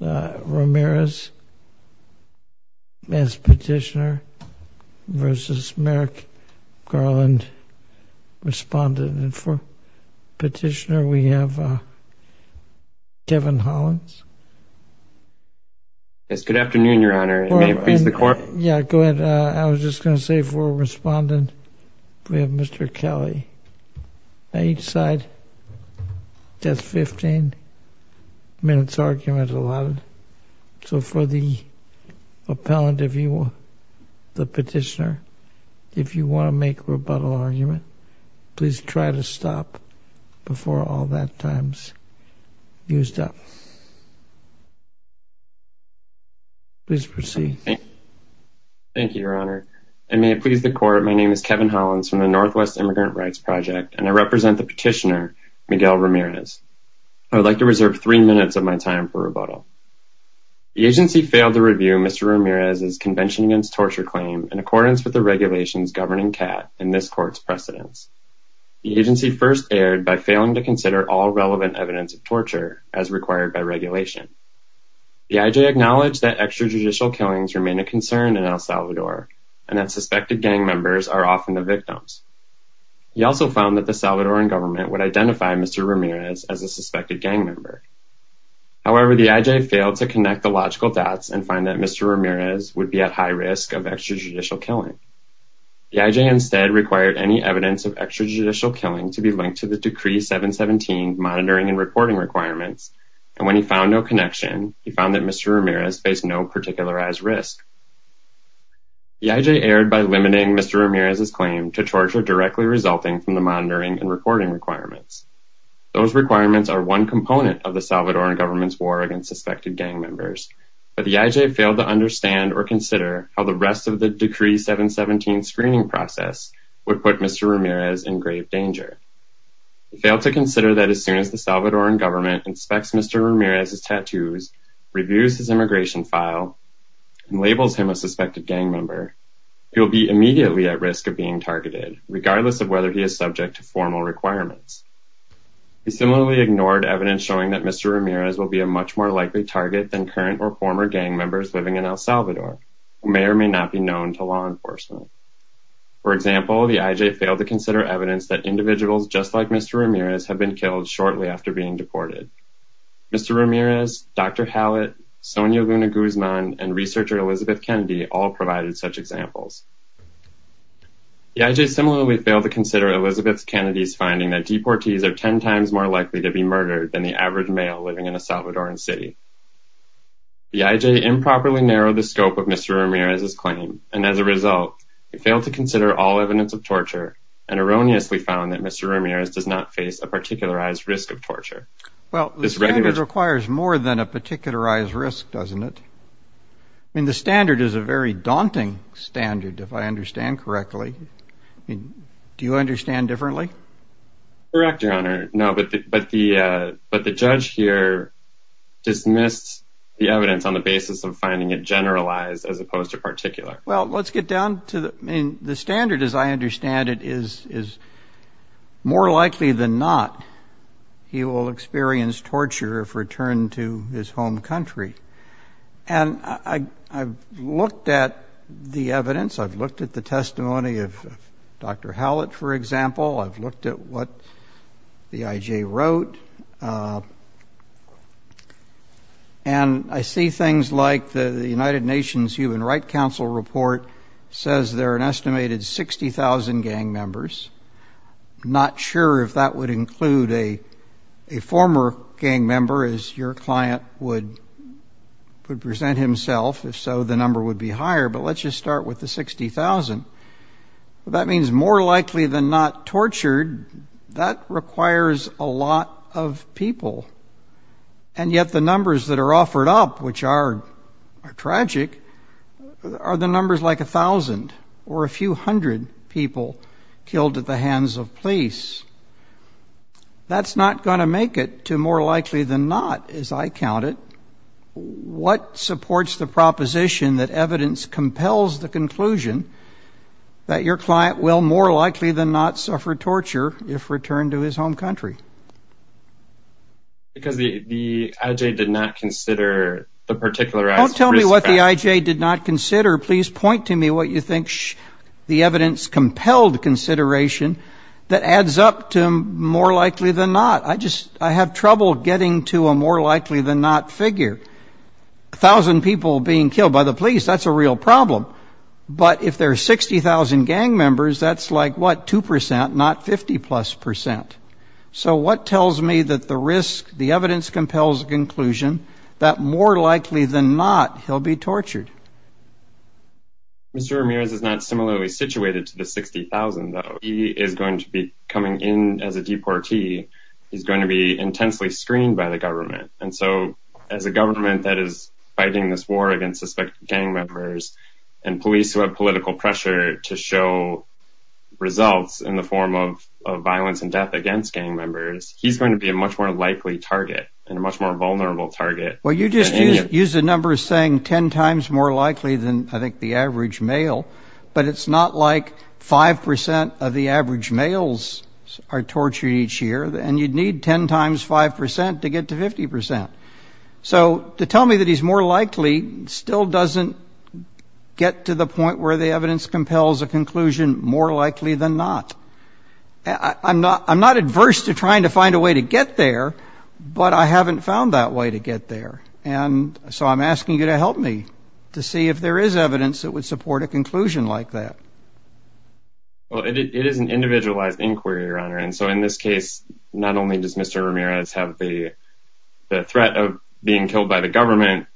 Ramirez as petitioner versus Merrick Garland, respondent. And for petitioner we have Kevin Hollins. Yes, good afternoon your honor. May it please the court. Yeah go ahead. I was just gonna say for respondent we have Mr. Kelly. Each side That's 15 minutes argument allotted. So for the appellant, if you will, the petitioner, if you want to make rebuttal argument please try to stop before all that time's used up. Please proceed. Thank you your honor. And may it please the court. My name is Kevin Hollins from the Northwest Immigrant Rights Project and I serve as the petitioner, Miguel Ramirez. I would like to reserve three minutes of my time for rebuttal. The agency failed to review Mr. Ramirez's Convention Against Torture claim in accordance with the regulations governing CAT and this court's precedents. The agency first erred by failing to consider all relevant evidence of torture as required by regulation. The IJ acknowledged that extrajudicial killings remain a concern in El Salvador and that suspected gang members are often the victims. He also found that the Salvadoran government would identify Mr. Ramirez as a suspected gang member. However, the IJ failed to connect the logical dots and find that Mr. Ramirez would be at high risk of extrajudicial killing. The IJ instead required any evidence of extrajudicial killing to be linked to the Decree 717 monitoring and reporting requirements and when he found no connection, he found that Mr. Ramirez faced no particularized risk. The IJ erred by limiting Mr. Ramirez's claim to torture directly resulting from the monitoring and reporting requirements. Those requirements are one component of the Salvadoran government's war against suspected gang members, but the IJ failed to understand or consider how the rest of the Decree 717 screening process would put Mr. Ramirez in grave danger. He failed to consider that as soon as the Salvadoran government inspects Mr. Ramirez's tattoos, reviews his immigration file, and labels him a suspected gang member, he will be immediately at risk of being targeted regardless of whether he is subject to formal requirements. He similarly ignored evidence showing that Mr. Ramirez will be a much more likely target than current or former gang members living in El Salvador, who may or may not be known to law enforcement. For example, the IJ failed to consider evidence that individuals just like Mr. Ramirez have been killed shortly after being deported. Mr. Ramirez, Dr. Hallett, Sonia Luna Guzman, and researcher Elizabeth Kennedy all provided such examples. The IJ similarly failed to consider Elizabeth Kennedy's finding that deportees are ten times more likely to be murdered than the average male living in a Salvadoran city. The IJ improperly narrowed the scope of Mr. Ramirez's claim, and as a result, it failed to consider all evidence of torture and erroneously found that Mr. Ramirez does not face a particularized risk of torture. Well, this standard requires more than a very daunting standard, if I understand correctly. I mean, do you understand differently? Correct, Your Honor. No, but the, but the, uh, but the judge here dismissed the evidence on the basis of finding it generalized as opposed to particular. Well, let's get down to the, I mean, the standard, as I understand it, is is more likely than not he will experience torture if returned to his I've looked at the evidence. I've looked at the testimony of Dr. Hallett, for example. I've looked at what the IJ wrote, and I see things like the United Nations Human Rights Council report says there are an estimated 60,000 gang members. Not sure if that would include a, a former gang member, as your client would, would present himself. If so, the number would be higher, but let's just start with the 60,000. That means more likely than not tortured. That requires a lot of people, and yet the numbers that are offered up, which are tragic, are the numbers like a thousand or a few hundred people killed at the hands of police. That's not going to make it to more likely than not, as I count it. What supports the proposition that evidence compels the conclusion that your client will more likely than not suffer torture if returned to his home country? Because the IJ did not consider the particularized risk factor. Don't tell me what the IJ did not consider. Please point to me what you think the evidence compelled consideration that adds up to more likely than not. I just, I have trouble getting to a more likely than not figure. A thousand people being killed by the police, that's a real problem. But if there are 60,000 gang members, that's like, what, 2% not 50 plus percent. So what tells me that the risk, the evidence compels the conclusion that more likely than not he'll be tortured? Mr. Ramirez is not similarly situated to the 60,000, though. He is going to be coming in as a deportee. He's going to be intensely screened by the government. And so as a government that is fighting this war against suspected gang members, and police who have political pressure to show results in the form of violence and death against gang members, he's going to be a much more likely target and a much more vulnerable target. Well, you just used a number saying 10 times more likely than I think the average male, but it's not like 5% of the average males are tortured each year and you'd need 10 times 5% to get to 50%. So to tell me that he's more likely still doesn't get to the point where the evidence compels a conclusion more likely than not. I'm not, I'm not adverse to trying to find a way to get there, but I don't know. I don't know. I don't know. And so I'm asking you to help me to see if there is evidence that would support a conclusion like that. Well, it is an individualized inquiry, Your Honor. And so in this case, not only does Mr. Ramirez have the threat of being killed by the government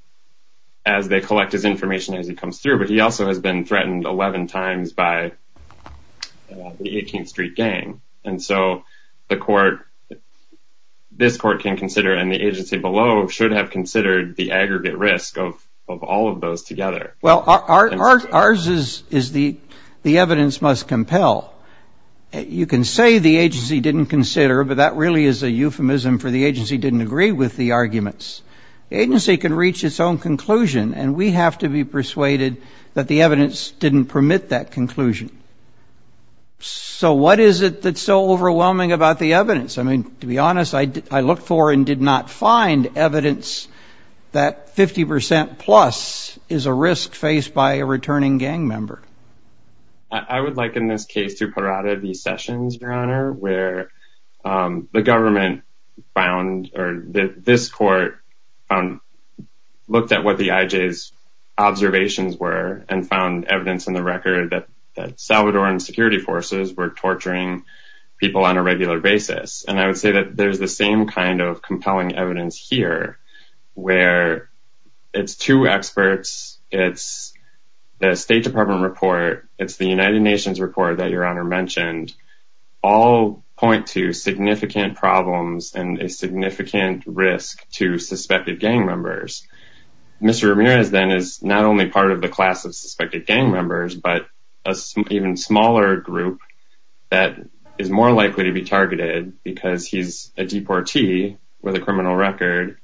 as they collect his information as he comes through, but he also has been threatened 11 times by the 18th Street gang. And so the court, this court can consider, and the agency below should have considered the aggregate risk of all of those together. Well, ours is the evidence must compel. You can say the agency didn't consider, but that really is a euphemism for the agency didn't agree with the arguments. The agency can reach its own conclusion and we have to be persuaded that the agency didn't permit that conclusion. So what is it that's so overwhelming about the evidence? I mean, to be honest, I looked for and did not find evidence that 50% plus is a risk faced by a returning gang member. I would like in this case to Parada the sessions, Your Honor, where the government found, or this court looked at what the IJ's observations were and found evidence in the record that Salvadoran security forces were torturing people on a regular basis. And I would say that there's the same kind of compelling evidence here where it's two experts, it's the State Department report, it's the United Nations report that Your Honor mentioned, all point to significant problems and a significant risk to suspected gang members. Mr. Ramirez then is not only part of the class of suspected gang members, but a even smaller group that is more likely to be targeted because he's a deportee with a criminal record.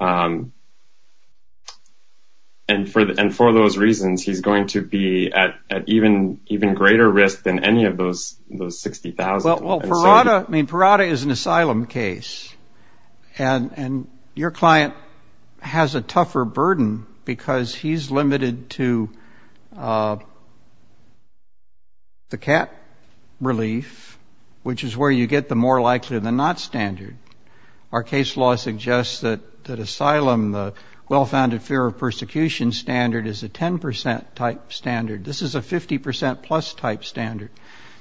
And for those reasons, he's going to be at even greater risk than any of those 60,000. Well, Parada is an asylum case and your client has a tougher burden because he's limited to the cat relief, which is where you get the more likely than not standard. Our case law suggests that asylum, the well-founded fear of persecution standard is a 10% type standard. This is a 50% plus type standard.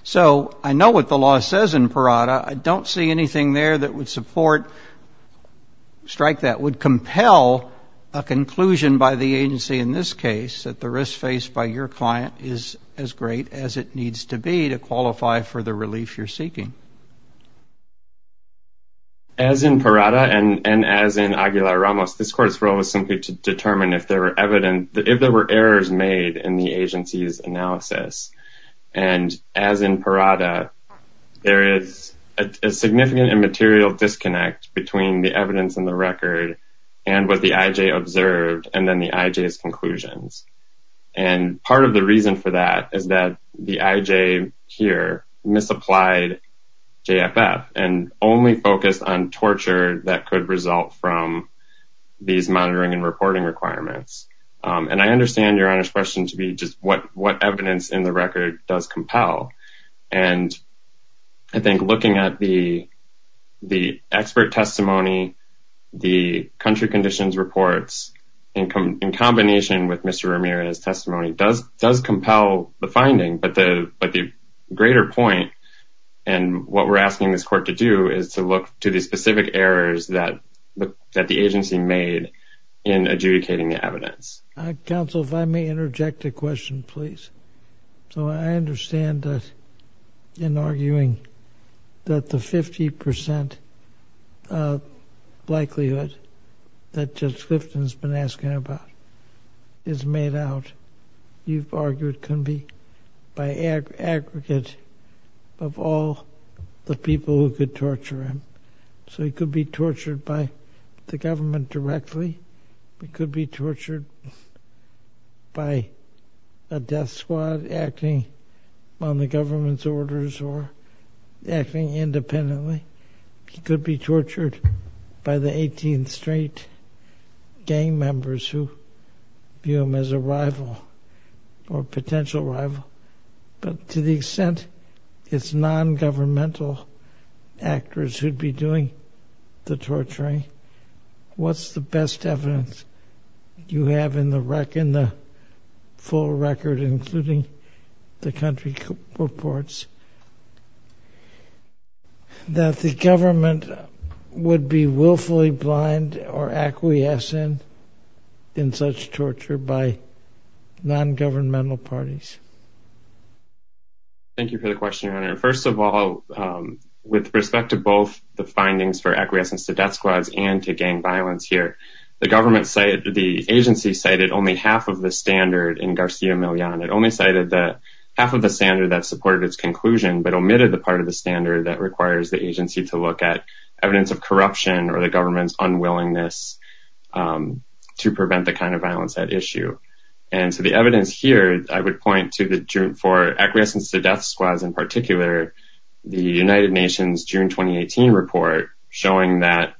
So I know what the law says in Parada. I don't see anything there that would support, strike that, would compel a conclusion by the agency in this case that the risk faced by your client is as great as it needs to be to qualify for the relief you're seeking. As in Parada and as in Aguilar-Ramos, this court's role was simply to determine if there were evidence, if there were errors made in the agency's analysis. And as in Parada, there is a significant and material disconnect between the evidence and the record and what the IJ observed and then the IJ's conclusions. And part of the reason for that is that the IJ here misapplied JFF and only focused on torture that could result from these monitoring and reporting requirements. And I understand your Honor's question to be just what evidence in the record does compel. And I think looking at the expert testimony, the country conditions reports in combination with Mr. Ramirez's testimony does compel the finding. But the greater point and what we're asking this court to do is to look to the evidence. Counsel, if I may interject a question, please. So I understand that in arguing that the 50% likelihood that Judge Clifton's been asking about is made out, you've argued can be by aggregate of all the people who could torture him. So he could be tortured by the government directly. He could be tortured by a death squad acting on the government's orders or acting independently. He could be tortured by the 18th Street gang members who view him as a rival or potential rival. But to the extent it's non-governmental actors who'd be doing the torturing, what's the best evidence you have in the full record, including the country reports that the government would be willfully blind or acquiescent in such torture by non-governmental parties? Thank you for the question, Your Honor. First of all, with respect to both the findings for acquiescence to death squads and to gang violence here, the agency cited only half of the standard in Garcia Millan. It only cited half of the standard that supported its conclusion, but omitted the part of the standard that requires the agency to look at evidence of corruption or the government's unwillingness to prevent the kind of violence at issue. And so the evidence here, I would point to for acquiescence to death squads in particular, the United Nations June 2018 report showing that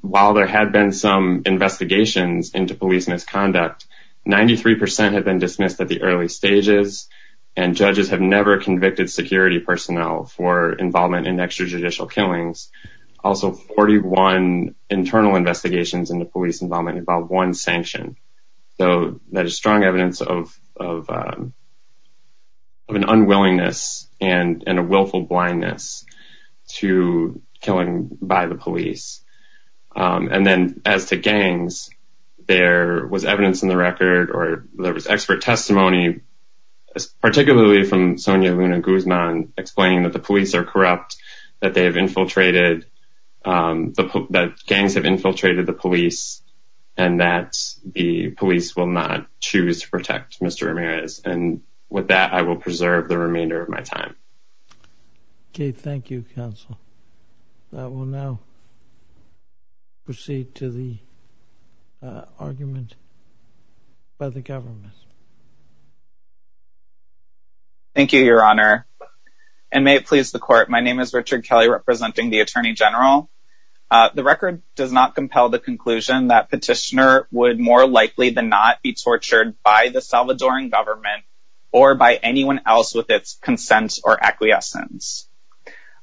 while there had been some investigations into police misconduct, 93 percent had been dismissed at the early stages and judges have never convicted security personnel for involvement in extrajudicial killings. Also, 41 internal investigations into police involvement involved one or more people who had been sanctioned, so that is strong evidence of an unwillingness and a willful blindness to killing by the police. And then as to gangs, there was evidence in the record or there was expert testimony, particularly from Sonia Luna Guzman, explaining that the police are corrupt, that they are corrupt, that the police will not choose to protect Mr. Ramirez. And with that, I will preserve the remainder of my time. OK, thank you, counsel. I will now proceed to the argument by the government. Thank you, Your Honor, and may it please the court. My name is Richard Kelly representing the attorney general. The record does not compel the conclusion that petitioner would more likely than not be tortured by the Salvadoran government or by anyone else with its consent or acquiescence.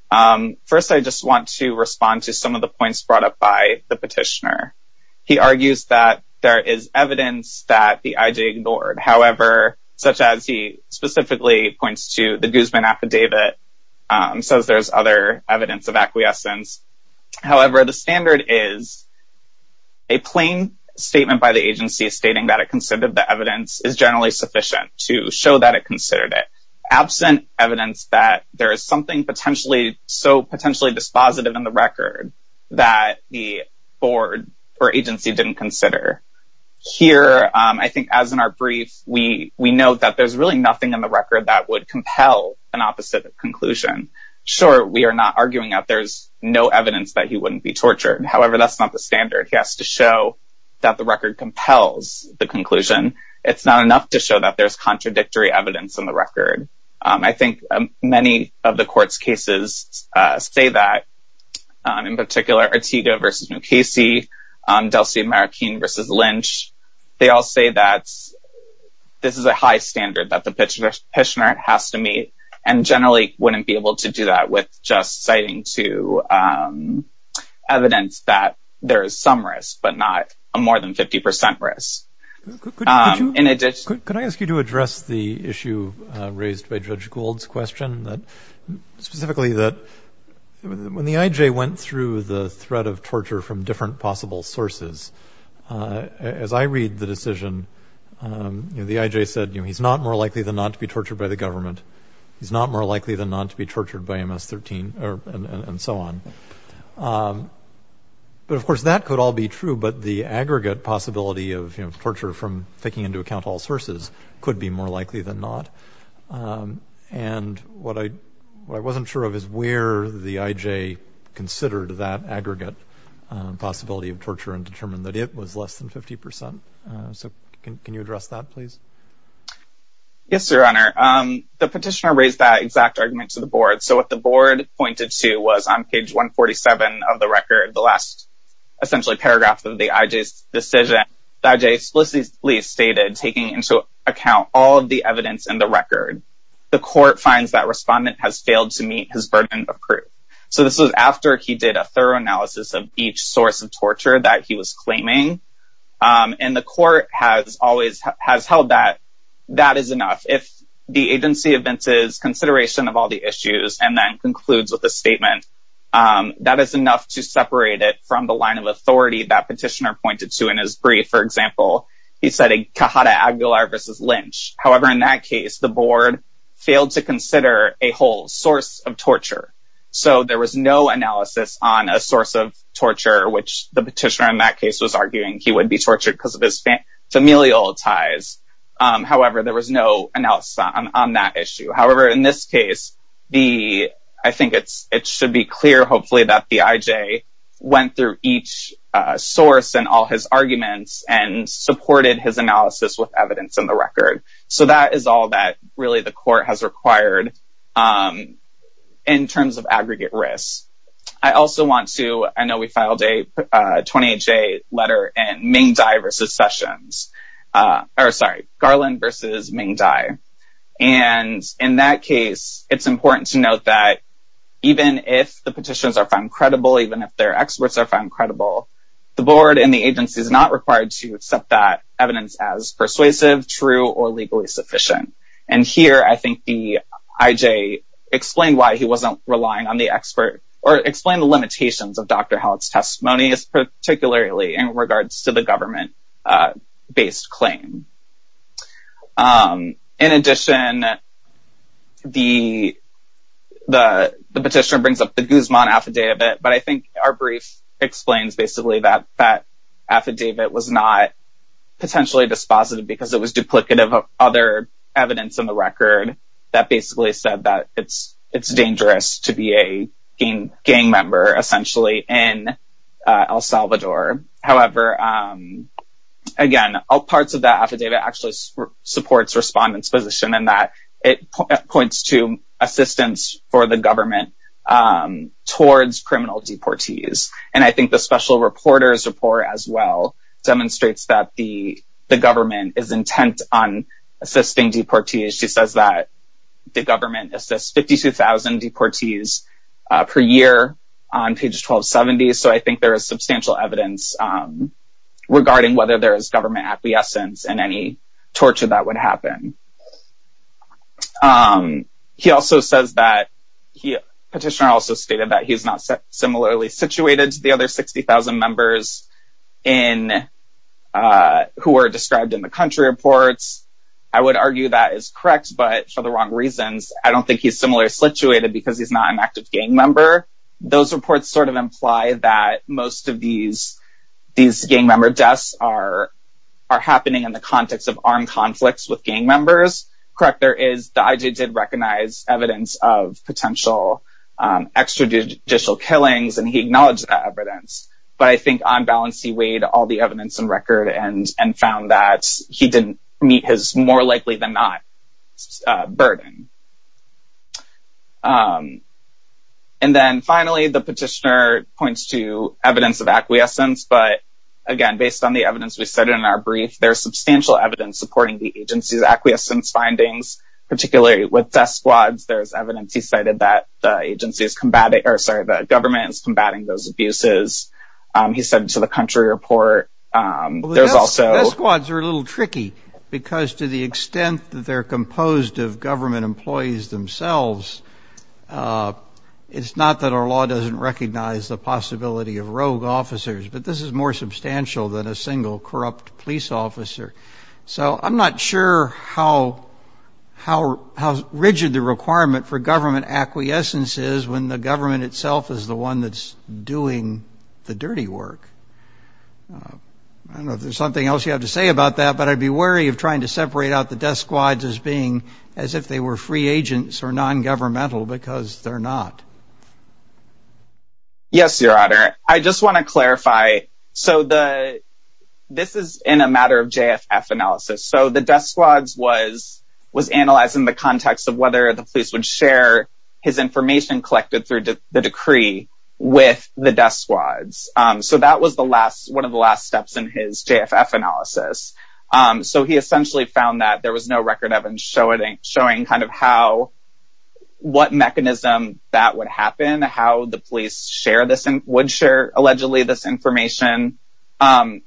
First, I just want to respond to some of the points brought up by the petitioner. He argues that there is evidence that the IJ ignored, however, such as he specifically points to the Guzman affidavit says there's other evidence of acquiescence. However, the standard is a plain statement by the agency stating that it considered the evidence is generally sufficient to show that it considered it absent evidence that there is something potentially so potentially dispositive in the record that the board or agency didn't consider here. I think as in our brief, we we know that there's really nothing in the record that would compel an opposite conclusion. Sure, we are not arguing that there's no evidence that he wouldn't be tortured. However, that's not the standard. He has to show that the record compels the conclusion. It's not enough to show that there's contradictory evidence in the record. I think many of the court's cases say that, in particular, Ortega vs. Mukasey, Delci-Marraquin vs. Lynch. They all say that this is a high standard that the petitioner has to meet and generally wouldn't be able to do that with just citing to evidence that there is some risk, but not a more than 50 percent risk. In addition, could I ask you to address the issue raised by Judge Gould's question that specifically that when the IJ went through the threat of torture from different possible sources, as I read the decision, the IJ said he's not more likely than not to be tortured by the government. He's not more likely than not to be tortured by MS-13 and so on. But of course, that could all be true. But the aggregate possibility of torture from taking into account all sources could be more likely than not. And what I what I wasn't sure of is where the IJ considered that aggregate possibility of torture and determined that it was less than 50 percent. So can you address that, please? Yes, Your Honor. The petitioner raised that exact argument to the board. So what the board pointed to was on page 147 of the record, the last essentially paragraph of the IJ's decision, the IJ explicitly stated, taking into account all of the evidence in the record, the court finds that respondent has failed to meet his burden of proof. So this was after he did a thorough analysis of each source of torture that he was claiming. And the court has always has held that that is enough. If the agency advances consideration of all the issues and then concludes with a statement, that is enough to separate it from the line of authority that petitioner pointed to in his brief. For example, he said a Cajada Aguilar versus Lynch. However, in that case, the board failed to consider a whole source of torture. So there was no analysis on a source of torture, which the petitioner in that case was arguing he would be tortured because of his familial ties. However, there was no analysis on that issue. However, in this case, I think it should be clear, hopefully, that the IJ went through each source and all his arguments and supported his analysis with evidence in the record. So that is all that really the court has required. In terms of aggregate risk, I also want to I know we filed a 28-J letter and Ming Dai versus Sessions, or sorry, Garland versus Ming Dai. And in that case, it's important to note that even if the petitions are found credible, even if their experts are found credible, the board and the agency is not required to accept that evidence as persuasive, true or legally sufficient. And here, I think the IJ explained why he wasn't relying on the expert or explained the limitations of Dr. Hallett's testimony, particularly in regards to the government-based claim. In addition, the petitioner brings up the Guzman affidavit. But I think our brief explains basically that that affidavit was not potentially dispositive because it was duplicative of other evidence in the record that basically said that it's dangerous to be a gang member, essentially, in El Salvador. However, again, all parts of that affidavit actually supports respondents' position in that it points to assistance for the government towards criminal deportees. And I think the special reporter's report as well demonstrates that the government is intent on assisting deportees. She says that the government assists 52,000 deportees per year on page 1270. So I think there is substantial evidence regarding whether there is government acquiescence in any torture that would happen. The petitioner also stated that he's not similarly situated to the other 60,000 members who were described in the country reports. I would argue that is correct, but for the wrong reasons. I don't think he's similarly situated because he's not an active gang member. Those reports sort of imply that most of these gang member deaths are happening in the Correct, there is, the IJ did recognize evidence of potential extrajudicial killings, and he acknowledged that evidence. But I think on balance, he weighed all the evidence in record and found that he didn't meet his more likely than not burden. And then finally, the petitioner points to evidence of acquiescence. But again, based on the evidence we cited in our brief, there's substantial evidence supporting the agency's acquiescence findings, particularly with death squads. There's evidence he cited that the agency is combating or sorry, the government is combating those abuses. He said to the country report, there's also squads are a little tricky, because to the extent that they're composed of government employees themselves. It's not that our law doesn't recognize the possibility of rogue officers, but this is more substantial than a single corrupt police officer. So I'm not sure how, how, how rigid the requirement for government acquiescence is when the government itself is the one that's doing the dirty work. I don't know if there's something else you have to say about that, but I'd be wary of trying to separate out the death squads as being as if they were free agents or non governmental because they're not. Yes, Your Honor, I just want to clarify. So the, this is in a matter of JFF analysis. So the death squads was, was analyzed in the context of whether the police would share his information collected through the decree with the death squads. So that was the last one of the last steps in his JFF analysis. So he essentially found that there was no record of him showing kind of how, what mechanism that would happen, how the police share this and would share allegedly this information.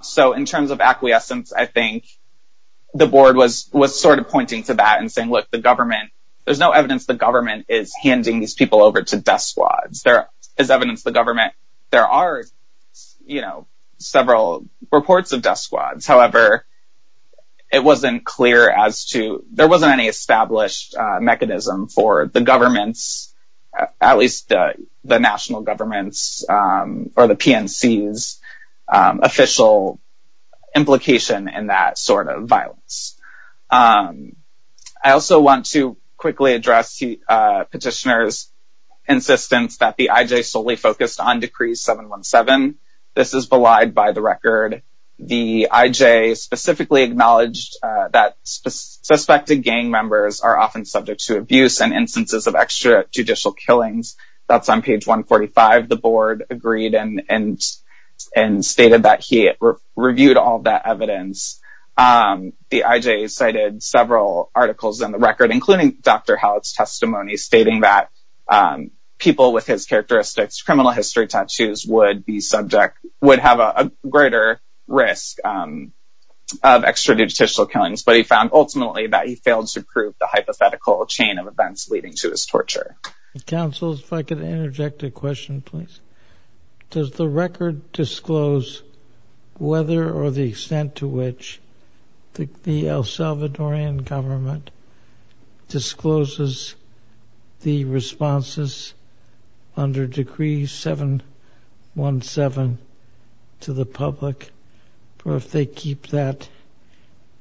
So in terms of acquiescence, I think the board was, was sort of pointing to that and saying, look, the government, there's no evidence the government is handing these people over to death squads. There is evidence the government, there are, you know, several reports of death squads. However, it wasn't clear as to, there wasn't any established mechanism for the government's at least the national government's or the PNC's official implication in that sort of violence. I also want to quickly address the petitioner's insistence that the IJ solely focused on Decree 717. This is belied by the record. The IJ specifically acknowledged that suspected gang members are often subject to abuse and killings. That's on page 145. The board agreed and, and, and stated that he reviewed all that evidence. The IJ cited several articles in the record, including Dr. Hallett's testimony, stating that people with his characteristics, criminal history tattoos would be subject, would have a greater risk of extrajudicial killings. But he found ultimately that he failed to prove the hypothetical chain of events leading to his torture. Counsel, if I could interject a question, please. Does the record disclose whether or the extent to which the El Salvadorian government discloses the responses under Decree 717 to the public, or if they keep that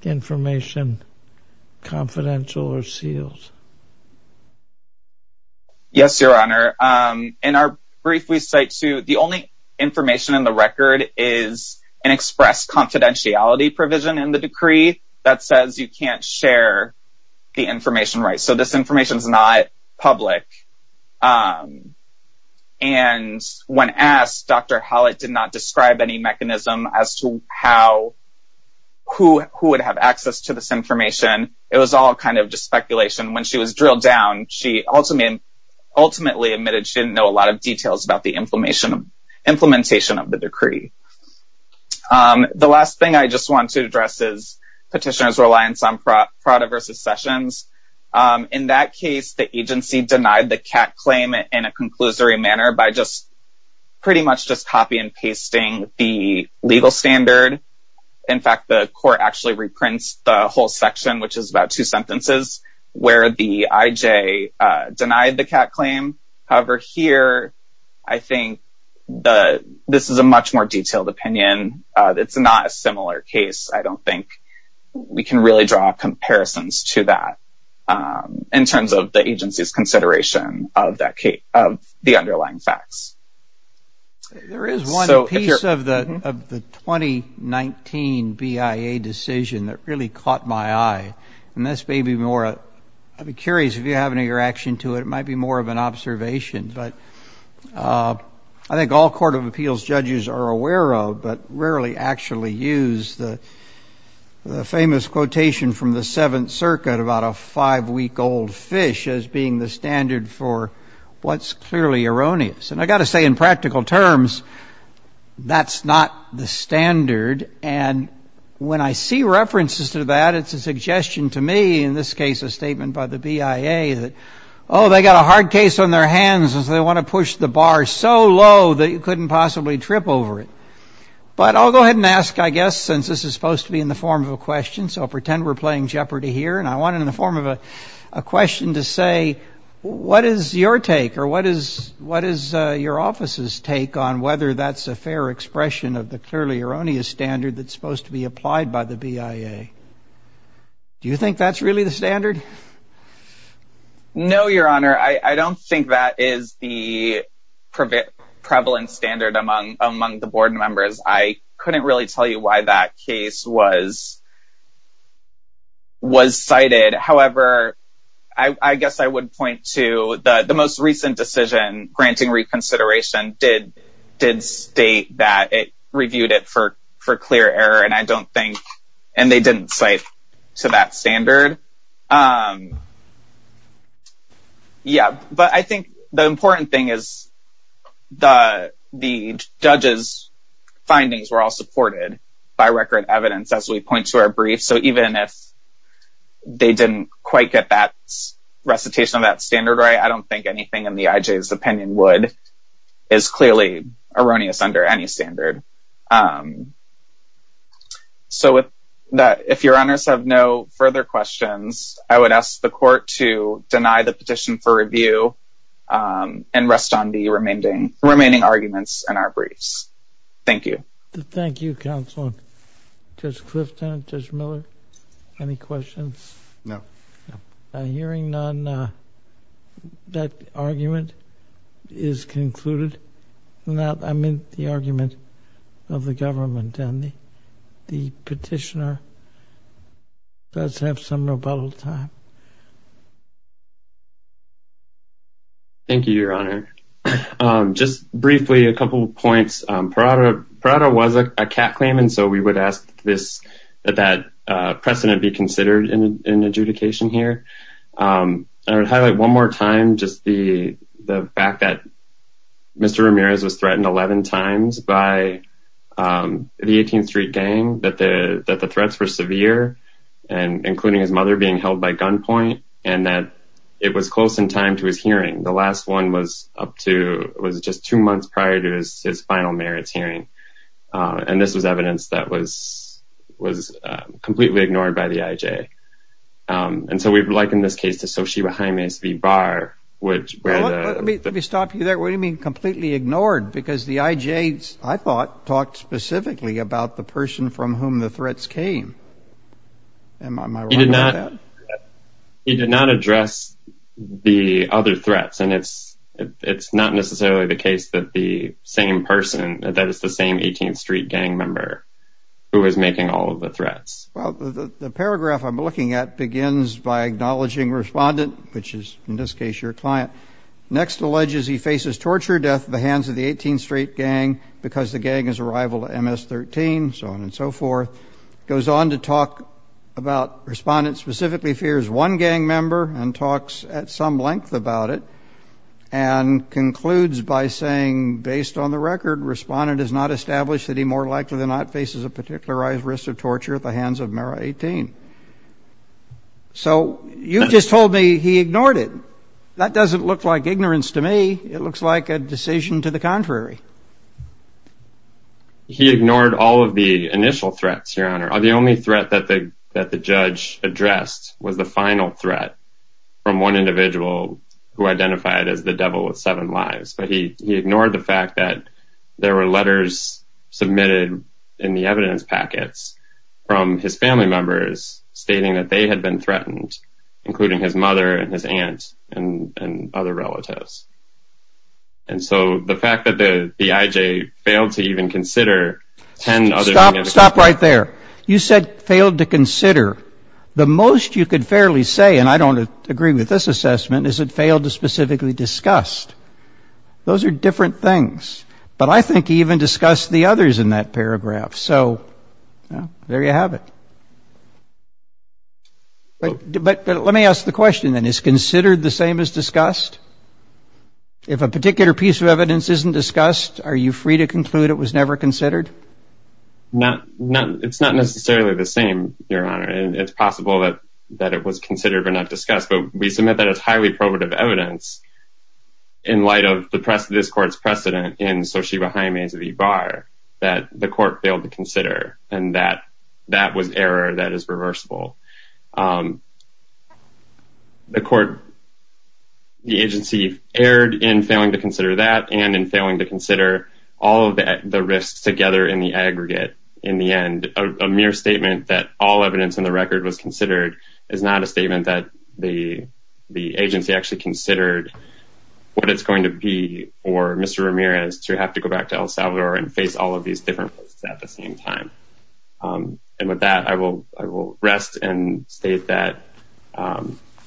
information confidential or sealed? Yes, Your Honor. In our brief, we cite to the only information in the record is an express confidentiality provision in the decree that says you can't share the information, right? So this information is not public. And when asked, Dr. Hallett did not describe any mechanism as to how, who, who would have access to this information. It was all kind of just speculation. When she was drilled down, she ultimately admitted she didn't know a lot of details about the implementation of the decree. The last thing I just want to address is petitioners' reliance on Prada versus Sessions. In that case, the agency denied the CAC claim in a conclusory manner by just pretty much just copy and pasting the legal standard. In fact, the court actually reprints the whole section, which is about two sentences, where the IJ denied the CAC claim. However, here, I think this is a much more detailed opinion. It's not a similar case. I don't think we can really draw comparisons to that in terms of the agency's consideration of the underlying facts. There is one piece of the 2019 BIA decision that really caught my eye, and this may be more, I'd be curious if you have any reaction to it. It might be more of an observation, but I think all court of appeals judges are aware of, but rarely actually use the famous quotation from the Seventh Circuit about a five-week old fish as being the standard for what's clearly erroneous. I got to say, in practical terms, that's not the standard. When I see references to that, it's a suggestion to me, in this case, a statement by the BIA that, oh, they got a hard case on their hands as they want to push the bar so low that you couldn't possibly trip over it. But I'll go ahead and ask, I guess, since this is supposed to be in the form of a question, so I'll pretend we're playing Jeopardy here, and I want it in the form of a question to what is your take, or what is your office's take on whether that's a fair expression of the clearly erroneous standard that's supposed to be applied by the BIA? Do you think that's really the standard? No, Your Honor. I don't think that is the prevalent standard among the board members. I couldn't really tell you why that case was cited. However, I guess I would point to the most recent decision, granting reconsideration, did state that it reviewed it for clear error, and I don't think, and they didn't cite to that standard. Yeah, but I think the important thing is the judge's findings were all supported by record evidence as we point to our brief. So even if they didn't quite get that recitation of that standard right, I don't think anything in the IJ's opinion would, is clearly erroneous under any standard. So if Your Honors have no further questions, I would ask the court to deny the petition for review and rest on the remaining arguments in our briefs. Thank you. Thank you, Counselor. Judge Clifton, Judge Miller, any questions? No. Hearing none, that argument is concluded. I meant the argument of the government, and the petitioner does have some rebuttal time. Thank you, Your Honor. Just briefly, a couple of points. Parada was a cat claim, and so we would ask that precedent be considered in adjudication here. I would highlight one more time just the fact that Mr. Ramirez was threatened 11 times by the 18th Street gang, that the threats were severe, including his mother being held by gunpoint, and that it was close in time to his hearing. The last one was up to, it was just two months prior to his final merits hearing. And this was evidence that was completely ignored by the IJ. And so we'd like, in this case, to associate behind me as the bar, which... Well, let me stop you there. What do you mean completely ignored? Because the IJ, I thought, talked specifically about the person from whom the threats came. Am I wrong about that? He did not address the other threats. And it's not necessarily the case that the same person, that it's the same 18th Street gang member who is making all of the threats. Well, the paragraph I'm looking at begins by acknowledging respondent, which is, in this case, your client. Next, alleges he faces torture death at the hands of the 18th Street gang because the gang is a rival to MS-13, so on and so forth. Goes on to talk about respondent specifically fears one gang member and talks at some length about it. And concludes by saying, based on the record, respondent has not established that he more likely than not faces a particularized risk of torture at the hands of Mera 18. So you just told me he ignored it. That doesn't look like ignorance to me. It looks like a decision to the contrary. He ignored all of the initial threats, Your Honor. The only threat that the judge addressed was the final threat from one individual who identified as the devil with seven lives. But he ignored the fact that there were letters submitted in the evidence packets from his family members stating that they had been threatened, including his mother and his aunt and other relatives. And so the fact that the IJ failed to even consider 10 other... Stop. Stop right there. You said failed to consider. The most you could fairly say, and I don't agree with this assessment, is it failed to specifically discussed. Those are different things. But I think he even discussed the others in that paragraph. So there you have it. But let me ask the question then. Is considered the same as discussed? If a particular piece of evidence isn't discussed, are you free to conclude it was never considered? It's not necessarily the same, Your Honor. And it's possible that it was considered but not discussed. But we submit that it's highly probative evidence in light of this court's precedent in Sochiba Jaime's bar that the court failed to consider and that that was error that is reversible. The agency erred in failing to consider that and in failing to consider all of the risks together in the aggregate. In the end, a mere statement that all evidence in the record was considered is not a statement that the agency actually considered what it's going to be for Mr. Ramirez to have to go back to El Salvador and face all of these different places at the same time. And with that, I will rest. And state that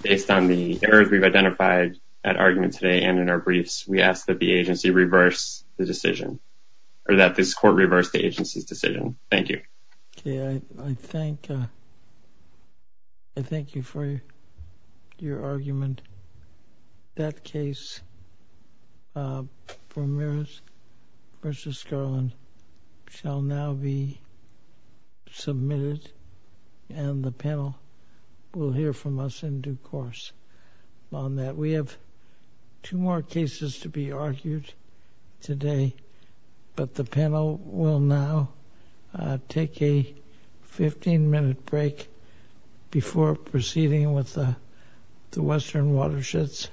based on the errors we've identified at argument today and in our briefs, we ask that the agency reverse the decision or that this court reverse the agency's decision. Thank you. Okay, I thank you for your argument. That case, Ramirez v. Scarlin, shall now be submitted and the panel will hear from us in due course on that. We have two more cases to be argued today, but the panel will now take a 15-minute break before proceeding with the Western Watersheds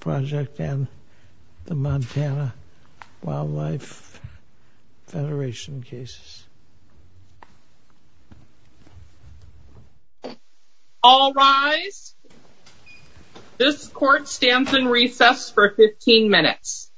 Project and the Montana Wildlife Federation cases. All rise. This court stands in recess for 15 minutes.